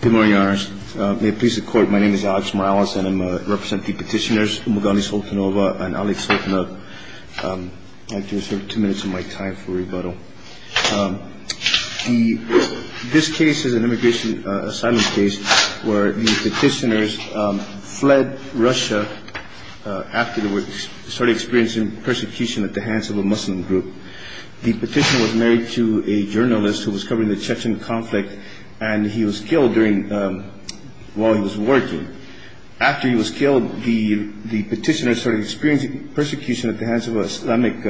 Good morning, Your Honors. May it please the Court, my name is Alex Morales and I represent the petitioners Umugandi Sultanova and Alec Sultanova. I'd like to reserve two minutes of my time for rebuttal. This case is an immigration asylum case where the petitioners fled Russia after they started experiencing persecution at the hands of a Muslim group. The petitioner was married to a journalist who was covering the Chechen conflict and he was killed while he was working. After he was killed, the petitioner started experiencing persecution at the hands of an Islamic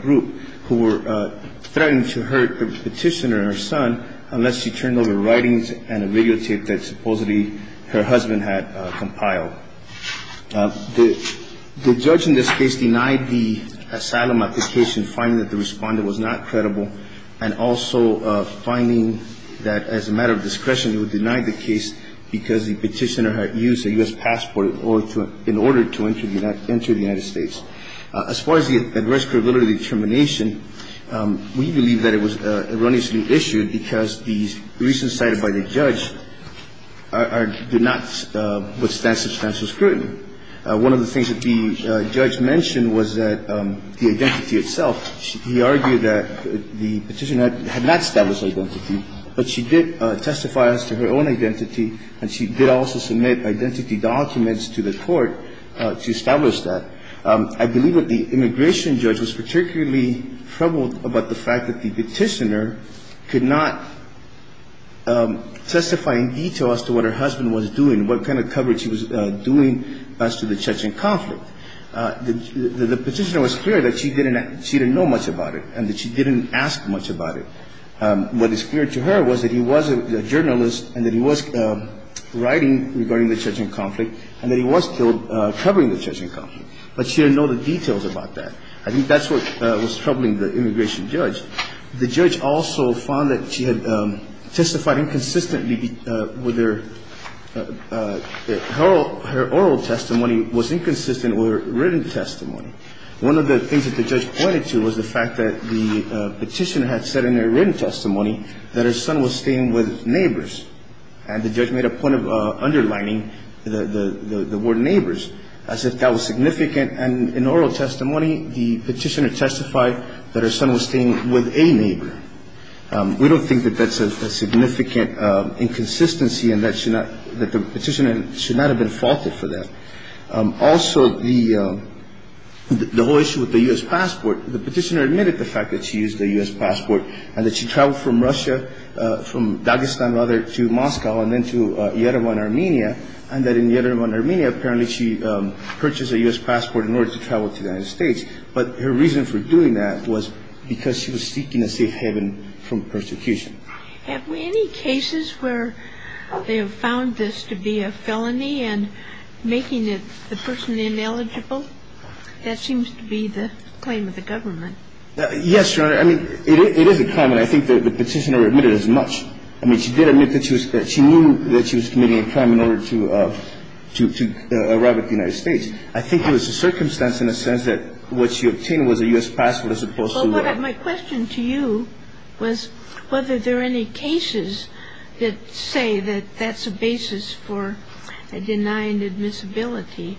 group who were threatening to hurt the petitioner and her son unless she turned over writings and a videotape that supposedly her husband had compiled. The judge in this case denied the asylum application, finding that the respondent was not credible, and also finding that as a matter of discretion he would deny the case because the petitioner had used a U.S. passport in order to enter the United States. As far as the arrest curability determination, we believe that it was erroneously issued because the reasons cited by the judge do not withstand substantial scrutiny. One of the things that the judge mentioned was that the identity itself. He argued that the petitioner had not established identity, but she did testify as to her own identity and she did also submit identity documents to the court to establish that. I believe that the immigration judge was particularly troubled about the fact that the petitioner could not testify in detail as to what her husband was doing, what kind of coverage he was doing as to the Chechen conflict. The petitioner was clear that she didn't know much about it and that she didn't ask much about it. What is clear to her was that he was a journalist and that he was writing regarding the Chechen conflict and that he was covering the Chechen conflict, but she didn't know the details about that. I think that's what was troubling the immigration judge. The judge also found that she had testified inconsistently with her oral testimony was inconsistent with her written testimony. One of the things that the judge pointed to was the fact that the petitioner had said in her written testimony that her son was staying with neighbors. And the judge made a point of underlining the word neighbors as if that was significant. And in oral testimony, the petitioner testified that her son was staying with a neighbor. We don't think that that's a significant inconsistency and that the petitioner should not have been faulted for that. Also, the whole issue with the U.S. passport, the petitioner admitted the fact that she used a U.S. passport and that she traveled from Russia, from Dagestan, rather, to Moscow and then to Yerevan, Armenia, and that in Yerevan, Armenia, apparently she purchased a U.S. passport in order to travel to the United States. But her reason for doing that was because she was seeking a safe haven from persecution. Have any cases where they have found this to be a felony and making the person ineligible? That seems to be the claim of the government. Yes, Your Honor. I mean, it is a claim, and I think the petitioner admitted as much. I mean, she did admit that she knew that she was committing a crime in order to arrive at the United States. I think it was a circumstance in a sense that what she obtained was a U.S. passport as opposed to the other. Well, my question to you was whether there are any cases that say that that's a basis for denying admissibility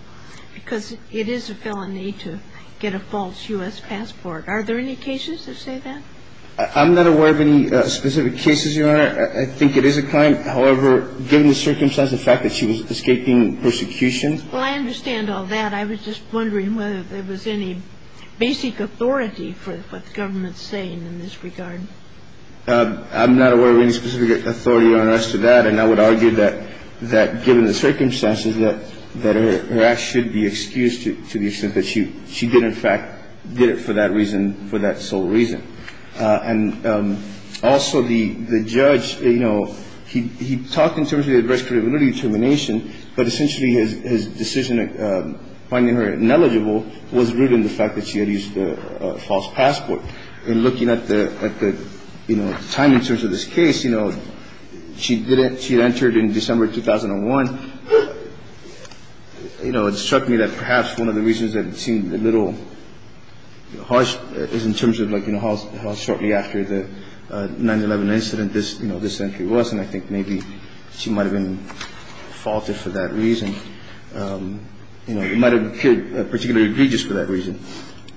because it is a felony to get a false U.S. passport. Are there any cases that say that? I'm not aware of any specific cases, Your Honor. I think it is a crime. However, given the circumstance, the fact that she was escaping persecution. Well, I understand all that. I was just wondering whether there was any basic authority for what the government is saying in this regard. I'm not aware of any specific authority, Your Honor, as to that, and I would argue that given the circumstances, that her act should be excused to the extent that she did, in fact, did it for that reason, for that sole reason. And also, the judge, you know, he talked in terms of the adverse credibility determination, but essentially his decision finding her ineligible was rooted in the fact that she had used a false passport. And looking at the, you know, timing in terms of this case, you know, she did it. She did it in December 2001. You know, it struck me that perhaps one of the reasons that it seemed a little harsh is in terms of, like, you know, how shortly after the 9-11 incident this, you know, this entry was, and I think maybe she might have been faulted for that reason. You know, it might have appeared particularly egregious for that reason.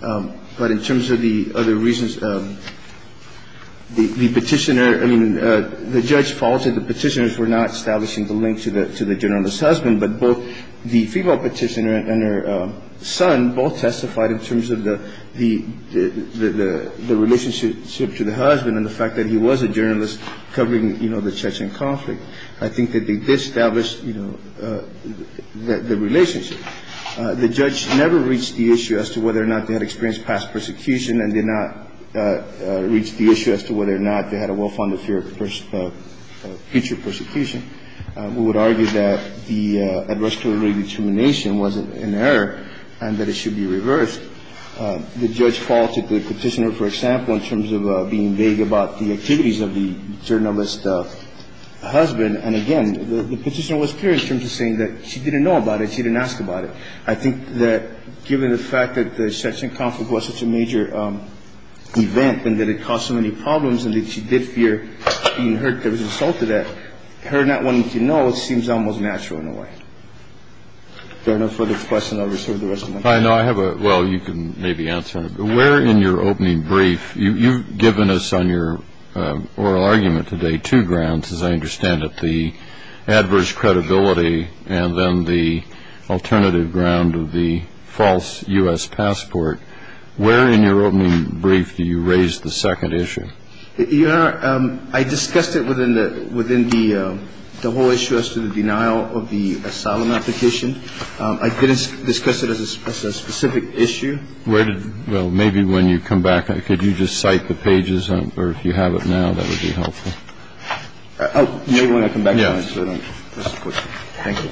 But in terms of the other reasons, the Petitioner, I mean, the judge faulted the Petitioners for not establishing the link to the journalist's husband. But both the female Petitioner and her son both testified in terms of the relationship to the husband and the fact that he was a journalist covering, you know, the Chechen conflict. I think that they did establish, you know, the relationship. The judge never reached the issue as to whether or not they had experienced past persecution and did not reach the issue as to whether or not they had a well-founded fear of future persecution. We would argue that the adverse preliminary determination was an error and that it should be reversed. The judge faulted the Petitioner, for example, in terms of being vague about the activities of the journalist's husband. And again, the Petitioner was clear in terms of saying that she didn't know about it. She didn't ask about it. I think that given the fact that the Chechen conflict was such a major event and that it caused so many problems and that she did fear being hurt that was resulted at, her not wanting to know seems almost natural in a way. If there are no further questions, I'll reserve the rest of my time. Well, you can maybe answer. Where in your opening brief, you've given us on your oral argument today two grounds, as I understand it, the adverse credibility and then the alternative ground of the false U.S. passport. Where in your opening brief do you raise the second issue? Your Honor, I discussed it within the whole issue as to the denial of the asylum application. I didn't discuss it as a specific issue. Well, maybe when you come back, could you just cite the pages or if you have it now, that would be helpful. Oh, you want to come back? Yes. Thank you.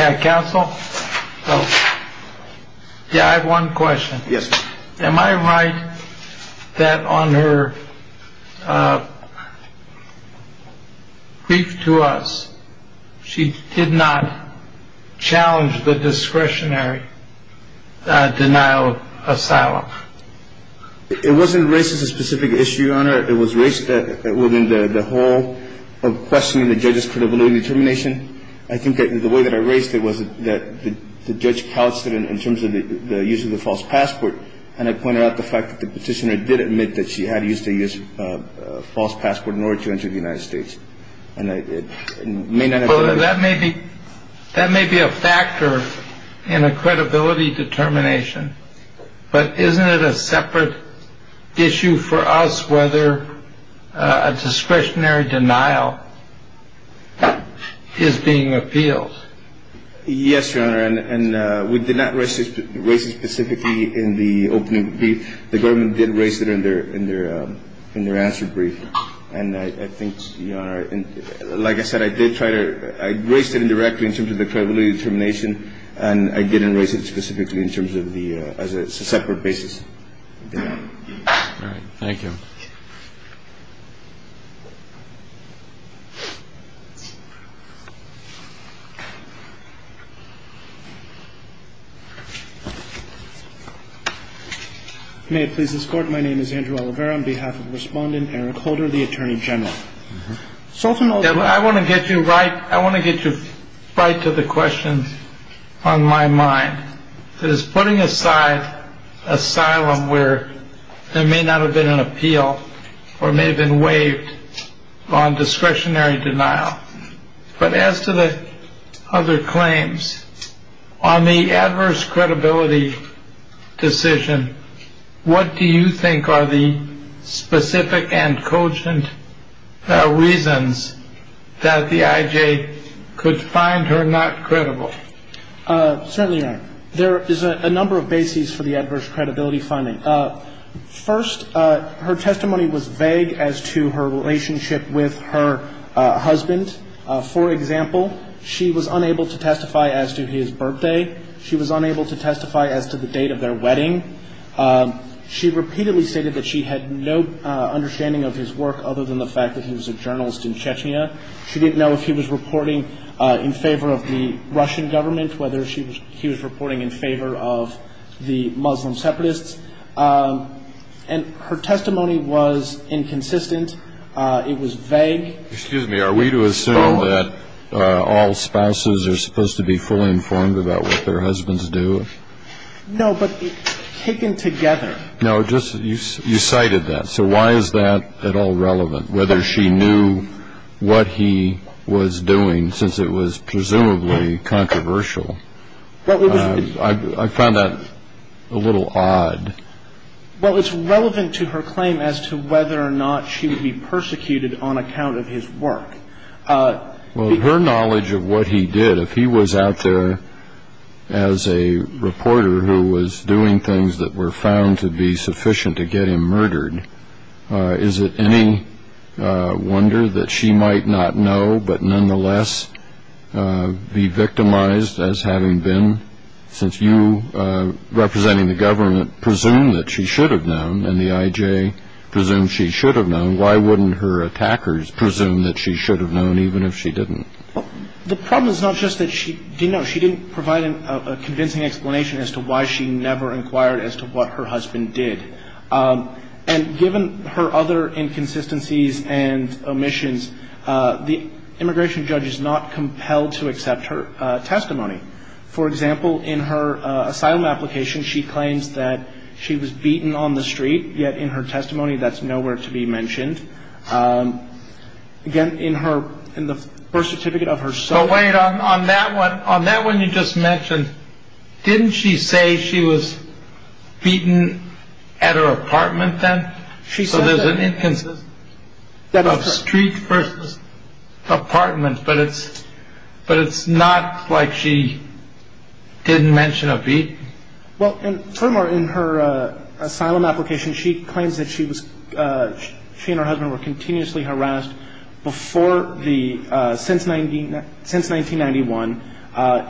Yeah. Counsel. Yeah. I have one question. Yes. Am I right that on her brief to us, she did not challenge the discretionary denial asylum. It wasn't raised as a specific issue on her. It was raised within the whole of questioning the judge's credibility determination. I think that the way that I raised it was that the judge calculated in terms of the use of the false passport. And I pointed out the fact that the petitioner did admit that she had used a false passport in order to enter the United States. And I may not know that maybe that may be a factor in a credibility determination. But isn't it a separate issue for us whether a discretionary denial is being appealed? Yes, Your Honor. And we did not raise it specifically in the opening. The government did raise it in their in their in their answer brief. And I think, you know, like I said, I did try to raise it indirectly in terms of the credibility determination. And I didn't raise it specifically in terms of the as a separate basis. Thank you. May it please this court. My name is Andrew Olivera on behalf of respondent Eric Holder, the attorney general. I want to get you right. I want to get you right to the question on my mind. That is putting aside asylum where there may not have been an appeal or may have been waived on discretionary denial. But as to the other claims on the adverse credibility decision. What do you think are the specific and cogent reasons that the IJ could find her not credible? Certainly there is a number of bases for the adverse credibility finding. First, her testimony was vague as to her relationship with her husband. For example, she was unable to testify as to his birthday. She was unable to testify as to the date of their wedding. She repeatedly stated that she had no understanding of his work other than the fact that he was a journalist in Chechnya. She didn't know if he was reporting in favor of the Russian government, whether he was reporting in favor of the Muslim separatists. And her testimony was inconsistent. It was vague. Excuse me. Are we to assume that all spouses are supposed to be fully informed about what their husbands do? No, but taken together. No, just you cited that. So why is that at all relevant, whether she knew what he was doing since it was presumably controversial? I found that a little odd. Well, it's relevant to her claim as to whether or not she would be persecuted on account of his work. Well, her knowledge of what he did, if he was out there as a reporter who was doing things that were found to be sufficient to get him murdered, is it any wonder that she might not know but nonetheless be victimized as having been? Since you, representing the government, presume that she should have known and the I.J. presumes she should have known, why wouldn't her attackers presume that she should have known even if she didn't? Well, the problem is not just that she didn't know. She didn't provide a convincing explanation as to why she never inquired as to what her husband did. And given her other inconsistencies and omissions, the immigration judge is not compelled to accept her testimony. For example, in her asylum application, she claims that she was beaten on the street, yet in her testimony that's nowhere to be mentioned. Again, in the birth certificate of her son. But wait, on that one you just mentioned, didn't she say she was beaten at her apartment then? She said that. So there's an inconsistency of street versus apartment, but it's not like she didn't mention a beating? Well, and furthermore, in her asylum application, she claims that she and her husband were continuously harassed since 1991.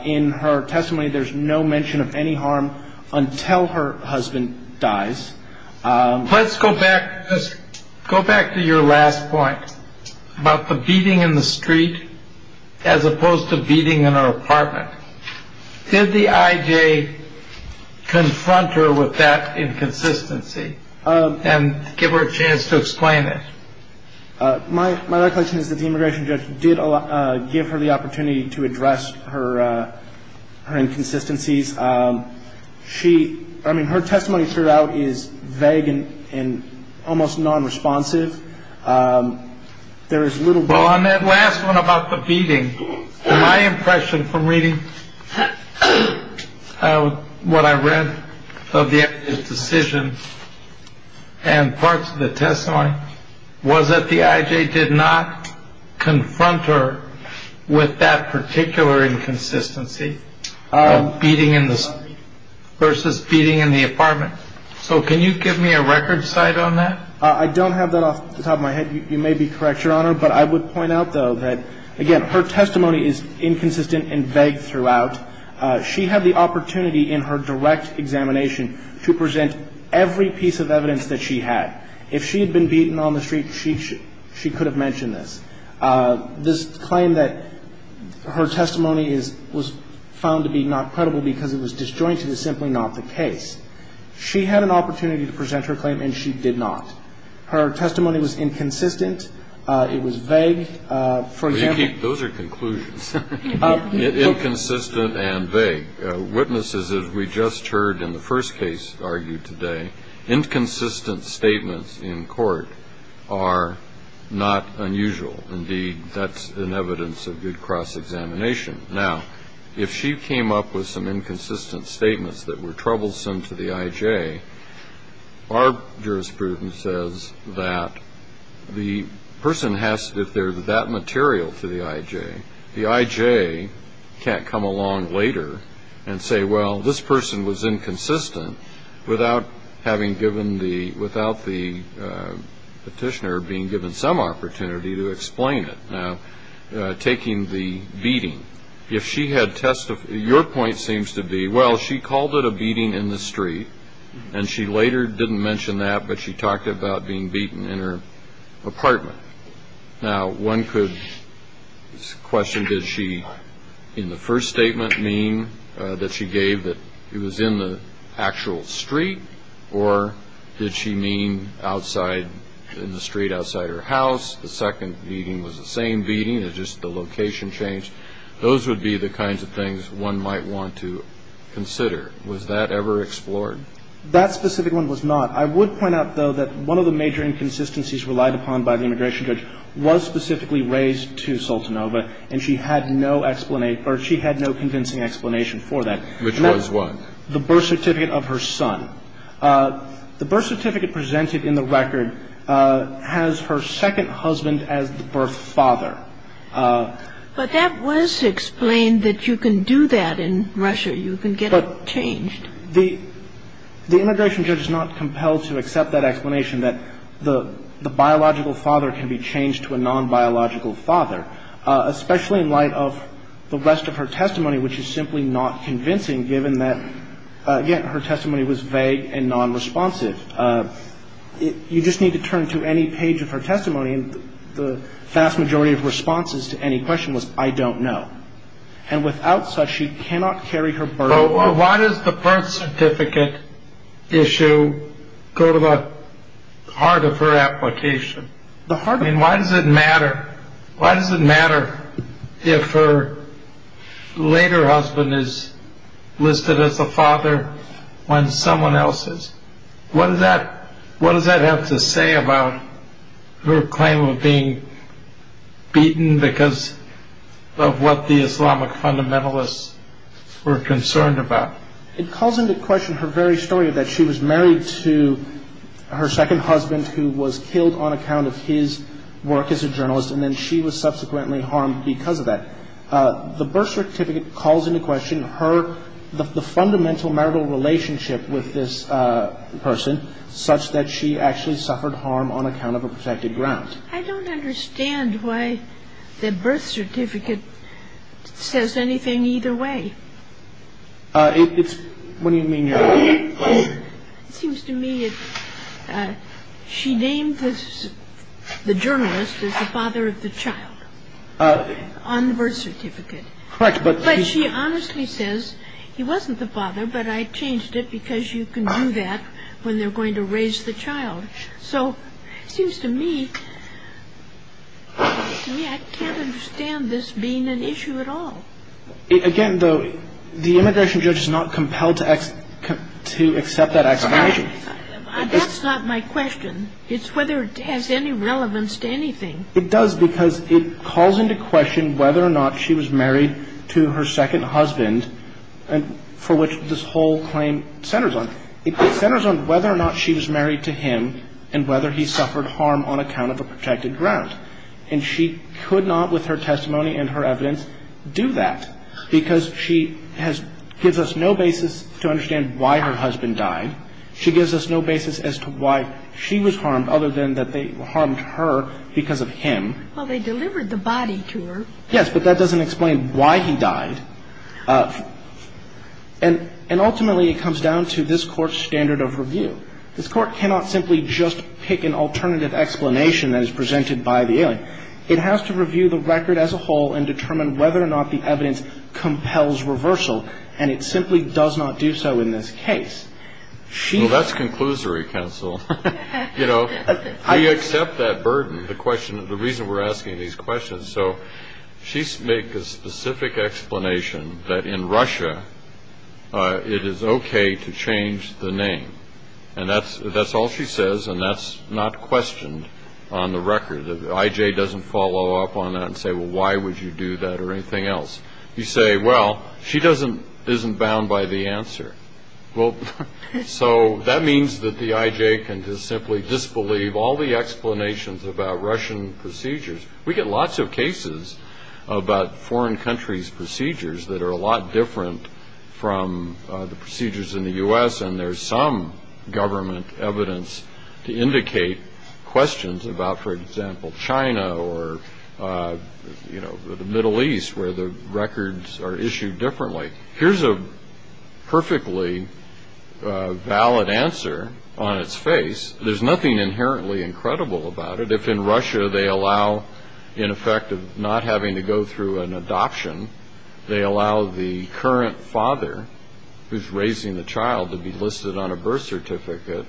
In her testimony, there's no mention of any harm until her husband dies. Let's go back to your last point about the beating in the street as opposed to beating in her apartment. Did the IJ confront her with that inconsistency and give her a chance to explain it? My recollection is that the immigration judge did give her the opportunity to address her inconsistencies. I mean, her testimony throughout is vague and almost non-responsive. There is little. Well, on that last one about the beating, my impression from reading what I read of the decision and parts of the testimony was that the IJ did not confront her with that particular inconsistency of beating in the street versus beating in the apartment. So can you give me a record site on that? I don't have that off the top of my head. You may be correct, Your Honor, but I would point out, though, that, again, her testimony is inconsistent and vague throughout. She had the opportunity in her direct examination to present every piece of evidence that she had. If she had been beaten on the street, she could have mentioned this. This claim that her testimony was found to be not credible because it was disjointed is simply not the case. She had an opportunity to present her claim, and she did not. Her testimony was inconsistent. It was vague. For example. Those are conclusions, inconsistent and vague. Witnesses, as we just heard in the first case argued today, inconsistent statements in court are not unusual. Indeed, that's an evidence of good cross-examination. Now, if she came up with some inconsistent statements that were troublesome to the I.J., our jurisprudence says that the person has to, if there's that material to the I.J., the I.J. can't come along later and say, well, this person was inconsistent without having given the, without the petitioner being given some opportunity to explain it. Now, taking the beating, if she had testified, your point seems to be, well, she called it a beating in the street, and she later didn't mention that, but she talked about being beaten in her apartment. Now, one could question, did she in the first statement mean that she gave that it was in the actual street, or did she mean outside, in the street outside her house? The second beating was the same beating. It's just the location changed. Those would be the kinds of things one might want to consider. Was that ever explored? That specific one was not. I would point out, though, that one of the major inconsistencies relied upon by the immigration judge was specifically raised to Sultanova, and she had no explanation, or she had no convincing explanation for that. Which was what? The birth certificate of her son. The birth certificate presented in the record has her second husband as the birth father. But that was explained that you can do that in Russia. You can get it changed. But the immigration judge is not compelled to accept that explanation, that the biological father can be changed to a nonbiological father, especially in light of the rest of her testimony, which is simply not convincing, given that, again, her testimony was vague and nonresponsive. You just need to turn to any page of her testimony, and the vast majority of responses to any question was, I don't know. And without such, she cannot carry her burden. Why does the birth certificate issue go to the heart of her application? I mean, why does it matter? Why does it matter if her later husband is listed as the father when someone else is? What does that have to say about her claim of being beaten because of what the Islamic fundamentalists were concerned about? It calls into question her very story that she was married to her second husband, who was killed on account of his work as a journalist, and then she was subsequently harmed because of that. The birth certificate calls into question the fundamental marital relationship with this person, such that she actually suffered harm on account of a protected ground. I don't understand why the birth certificate says anything either way. What do you mean? It seems to me that she named the journalist as the father of the child on the birth certificate. Correct. But she honestly says, he wasn't the father, but I changed it because you can do that when they're going to raise the child. So it seems to me, I can't understand this being an issue at all. Again, though, the immigration judge is not compelled to accept that explanation. That's not my question. It's whether it has any relevance to anything. It does because it calls into question whether or not she was married to her second husband, for which this whole claim centers on. It centers on whether or not she was married to him and whether he suffered harm on account of a protected ground. And she could not, with her testimony and her evidence, do that, because she gives us no basis to understand why her husband died. She gives us no basis as to why she was harmed other than that they harmed her because of him. Well, they delivered the body to her. Yes, but that doesn't explain why he died. And ultimately, it comes down to this Court's standard of review. This Court cannot simply just pick an alternative explanation that is presented by the alien. It has to review the record as a whole and determine whether or not the evidence compels reversal, and it simply does not do so in this case. Well, that's conclusory, counsel. You know, we accept that burden, the reason we're asking these questions. So she makes a specific explanation that in Russia it is okay to change the name. And that's all she says, and that's not questioned on the record. The I.J. doesn't follow up on that and say, well, why would you do that or anything else? You say, well, she isn't bound by the answer. Well, so that means that the I.J. can just simply disbelieve all the explanations about Russian procedures. We get lots of cases about foreign countries' procedures that are a lot different from the procedures in the U.S., and there's some government evidence to indicate questions about, for example, China or, you know, the Middle East where the records are issued differently. Here's a perfectly valid answer on its face. There's nothing inherently incredible about it. If in Russia they allow, in effect, not having to go through an adoption, they allow the current father who's raising the child to be listed on a birth certificate,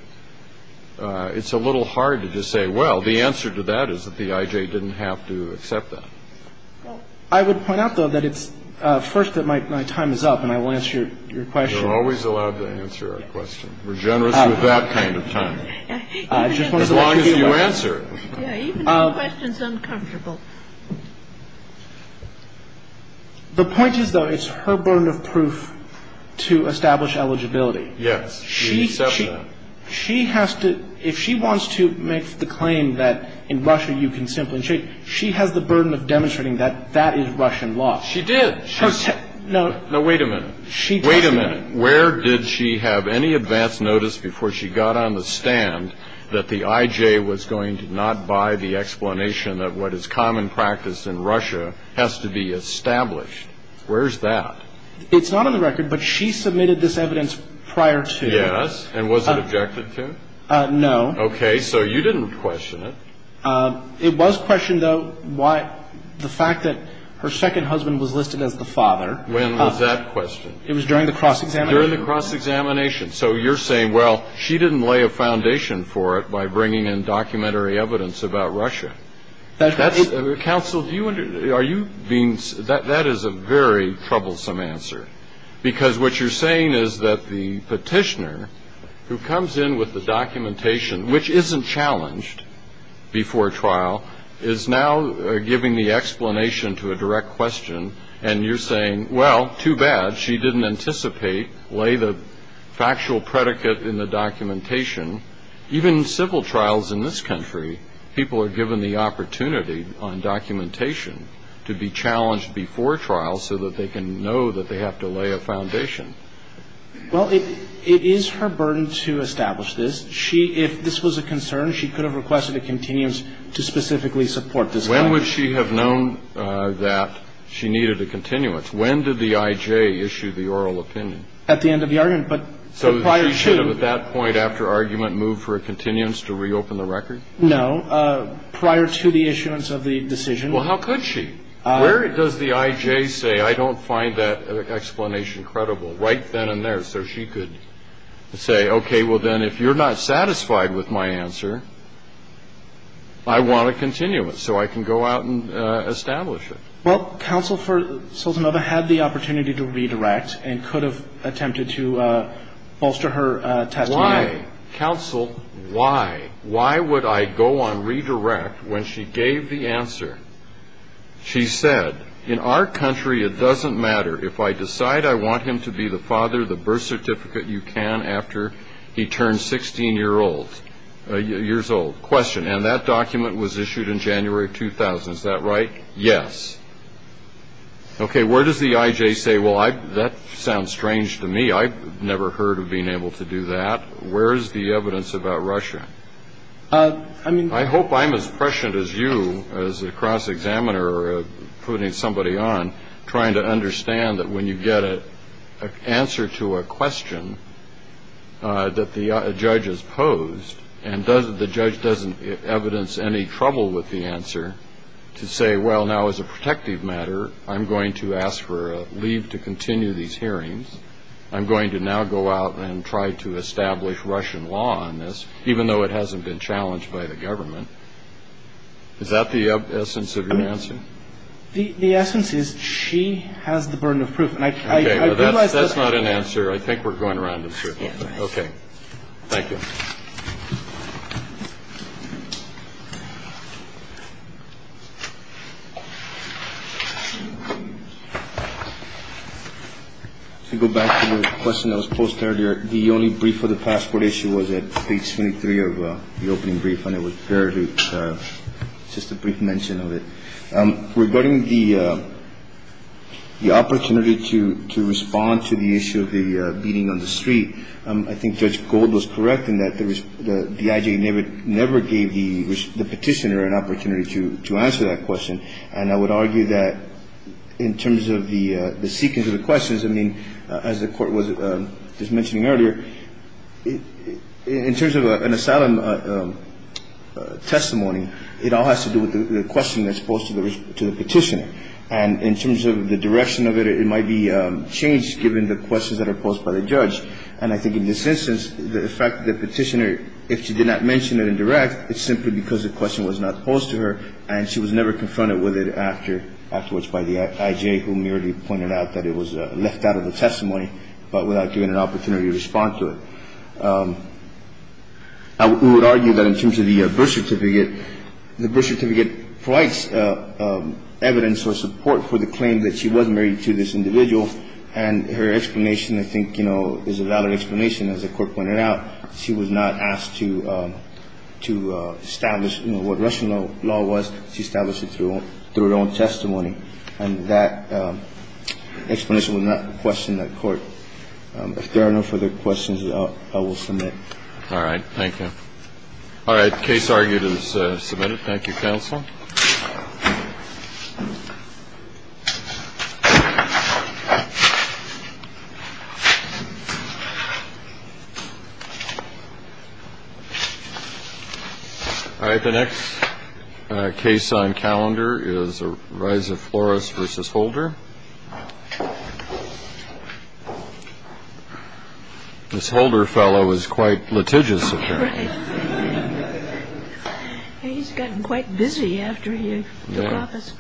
it's a little hard to just say, well, the answer to that is that the I.J. didn't have to accept that. Well, I would point out, though, that it's first that my time is up, and I will answer your question. You're always allowed to answer a question. We're generous with that kind of time, as long as you answer it. Even if the question's uncomfortable. The point is, though, it's her burden of proof to establish eligibility. Yes, we accept that. She has to – if she wants to make the claim that in Russia you can simply – she has the burden of demonstrating that that is Russian law. She did. No. No, wait a minute. Wait a minute. And where did she have any advance notice before she got on the stand that the I.J. was going to not buy the explanation that what is common practice in Russia has to be established? Where's that? It's not on the record, but she submitted this evidence prior to. Yes. And was it objected to? No. Okay. So you didn't question it. It was questioned, though, why – the fact that her second husband was listed as the father. When was that questioned? It was during the cross-examination. During the cross-examination. So you're saying, well, she didn't lay a foundation for it by bringing in documentary evidence about Russia. That's – Counsel, do you – are you being – that is a very troublesome answer, because what you're saying is that the petitioner who comes in with the documentation, which isn't challenged before trial, is now giving the explanation to a direct question, and you're saying, well, too bad. She didn't anticipate, lay the factual predicate in the documentation. Even in civil trials in this country, people are given the opportunity on documentation to be challenged before trial so that they can know that they have to lay a foundation. Well, it is her burden to establish this. She – if this was a concern, she could have requested a continuance to specifically support this question. When would she have known that she needed a continuance? When did the I.J. issue the oral opinion? At the end of the argument, but prior to – So she should have at that point after argument moved for a continuance to reopen the record? No. Prior to the issuance of the decision. Well, how could she? Where does the I.J. say, I don't find that explanation credible? Right then and there. So she could say, okay, well, then if you're not satisfied with my answer, I want a continuance so I can go out and establish it. Well, counsel for Sultanova had the opportunity to redirect and could have attempted to bolster her testimony. Why? Counsel, why? Why would I go on redirect when she gave the answer? She said, in our country, it doesn't matter. If I decide I want him to be the father, the birth certificate, you can after he turns 16 years old. Question, and that document was issued in January 2000. Is that right? Yes. Okay, where does the I.J. say, well, that sounds strange to me. I've never heard of being able to do that. Where is the evidence about Russia? I hope I'm as prescient as you as a cross-examiner putting somebody on, trying to understand that when you get an answer to a question that the judge has posed and the judge doesn't evidence any trouble with the answer to say, well, now, as a protective matter, I'm going to ask for a leave to continue these hearings. I'm going to now go out and try to establish Russian law on this, even though it hasn't been challenged by the government. Is that the essence of your answer? The essence is she has the burden of proof. Okay, that's not an answer. I think we're going around in circles. Okay. Thank you. Thank you. To go back to the question that was posed earlier, the only brief for the passport issue was at page 23 of the opening brief, and it was barely just a brief mention of it. Regarding the opportunity to respond to the issue of the beating on the street, I think Judge Gold was correct in that the IJ never gave the petitioner an opportunity to answer that question, and I would argue that in terms of the sequence of the questions, I mean, as the Court was just mentioning earlier, in terms of an asylum testimony, it all has to do with the question that's posed to the petitioner. And in terms of the direction of it, it might be changed given the questions that are posed by the judge. And I think in this instance, the fact that the petitioner, if she did not mention it in direct, it's simply because the question was not posed to her and she was never confronted with it afterwards by the IJ, who merely pointed out that it was left out of the testimony, but without giving an opportunity to respond to it. I would argue that in terms of the birth certificate, the birth certificate provides evidence or support for the claim that she was married to this individual. And her explanation, I think, you know, is a valid explanation. As the Court pointed out, she was not asked to establish, you know, what Russian law was. She established it through her own testimony. And that explanation would not question the Court. If there are no further questions, I will submit. All right. Thank you. All right. Case argued is submitted. Thank you, counsel. All right. The next case on calendar is a rise of Flores versus Holder. This Holder fellow is quite litigious, apparently. Right. He's gotten quite busy after he took office.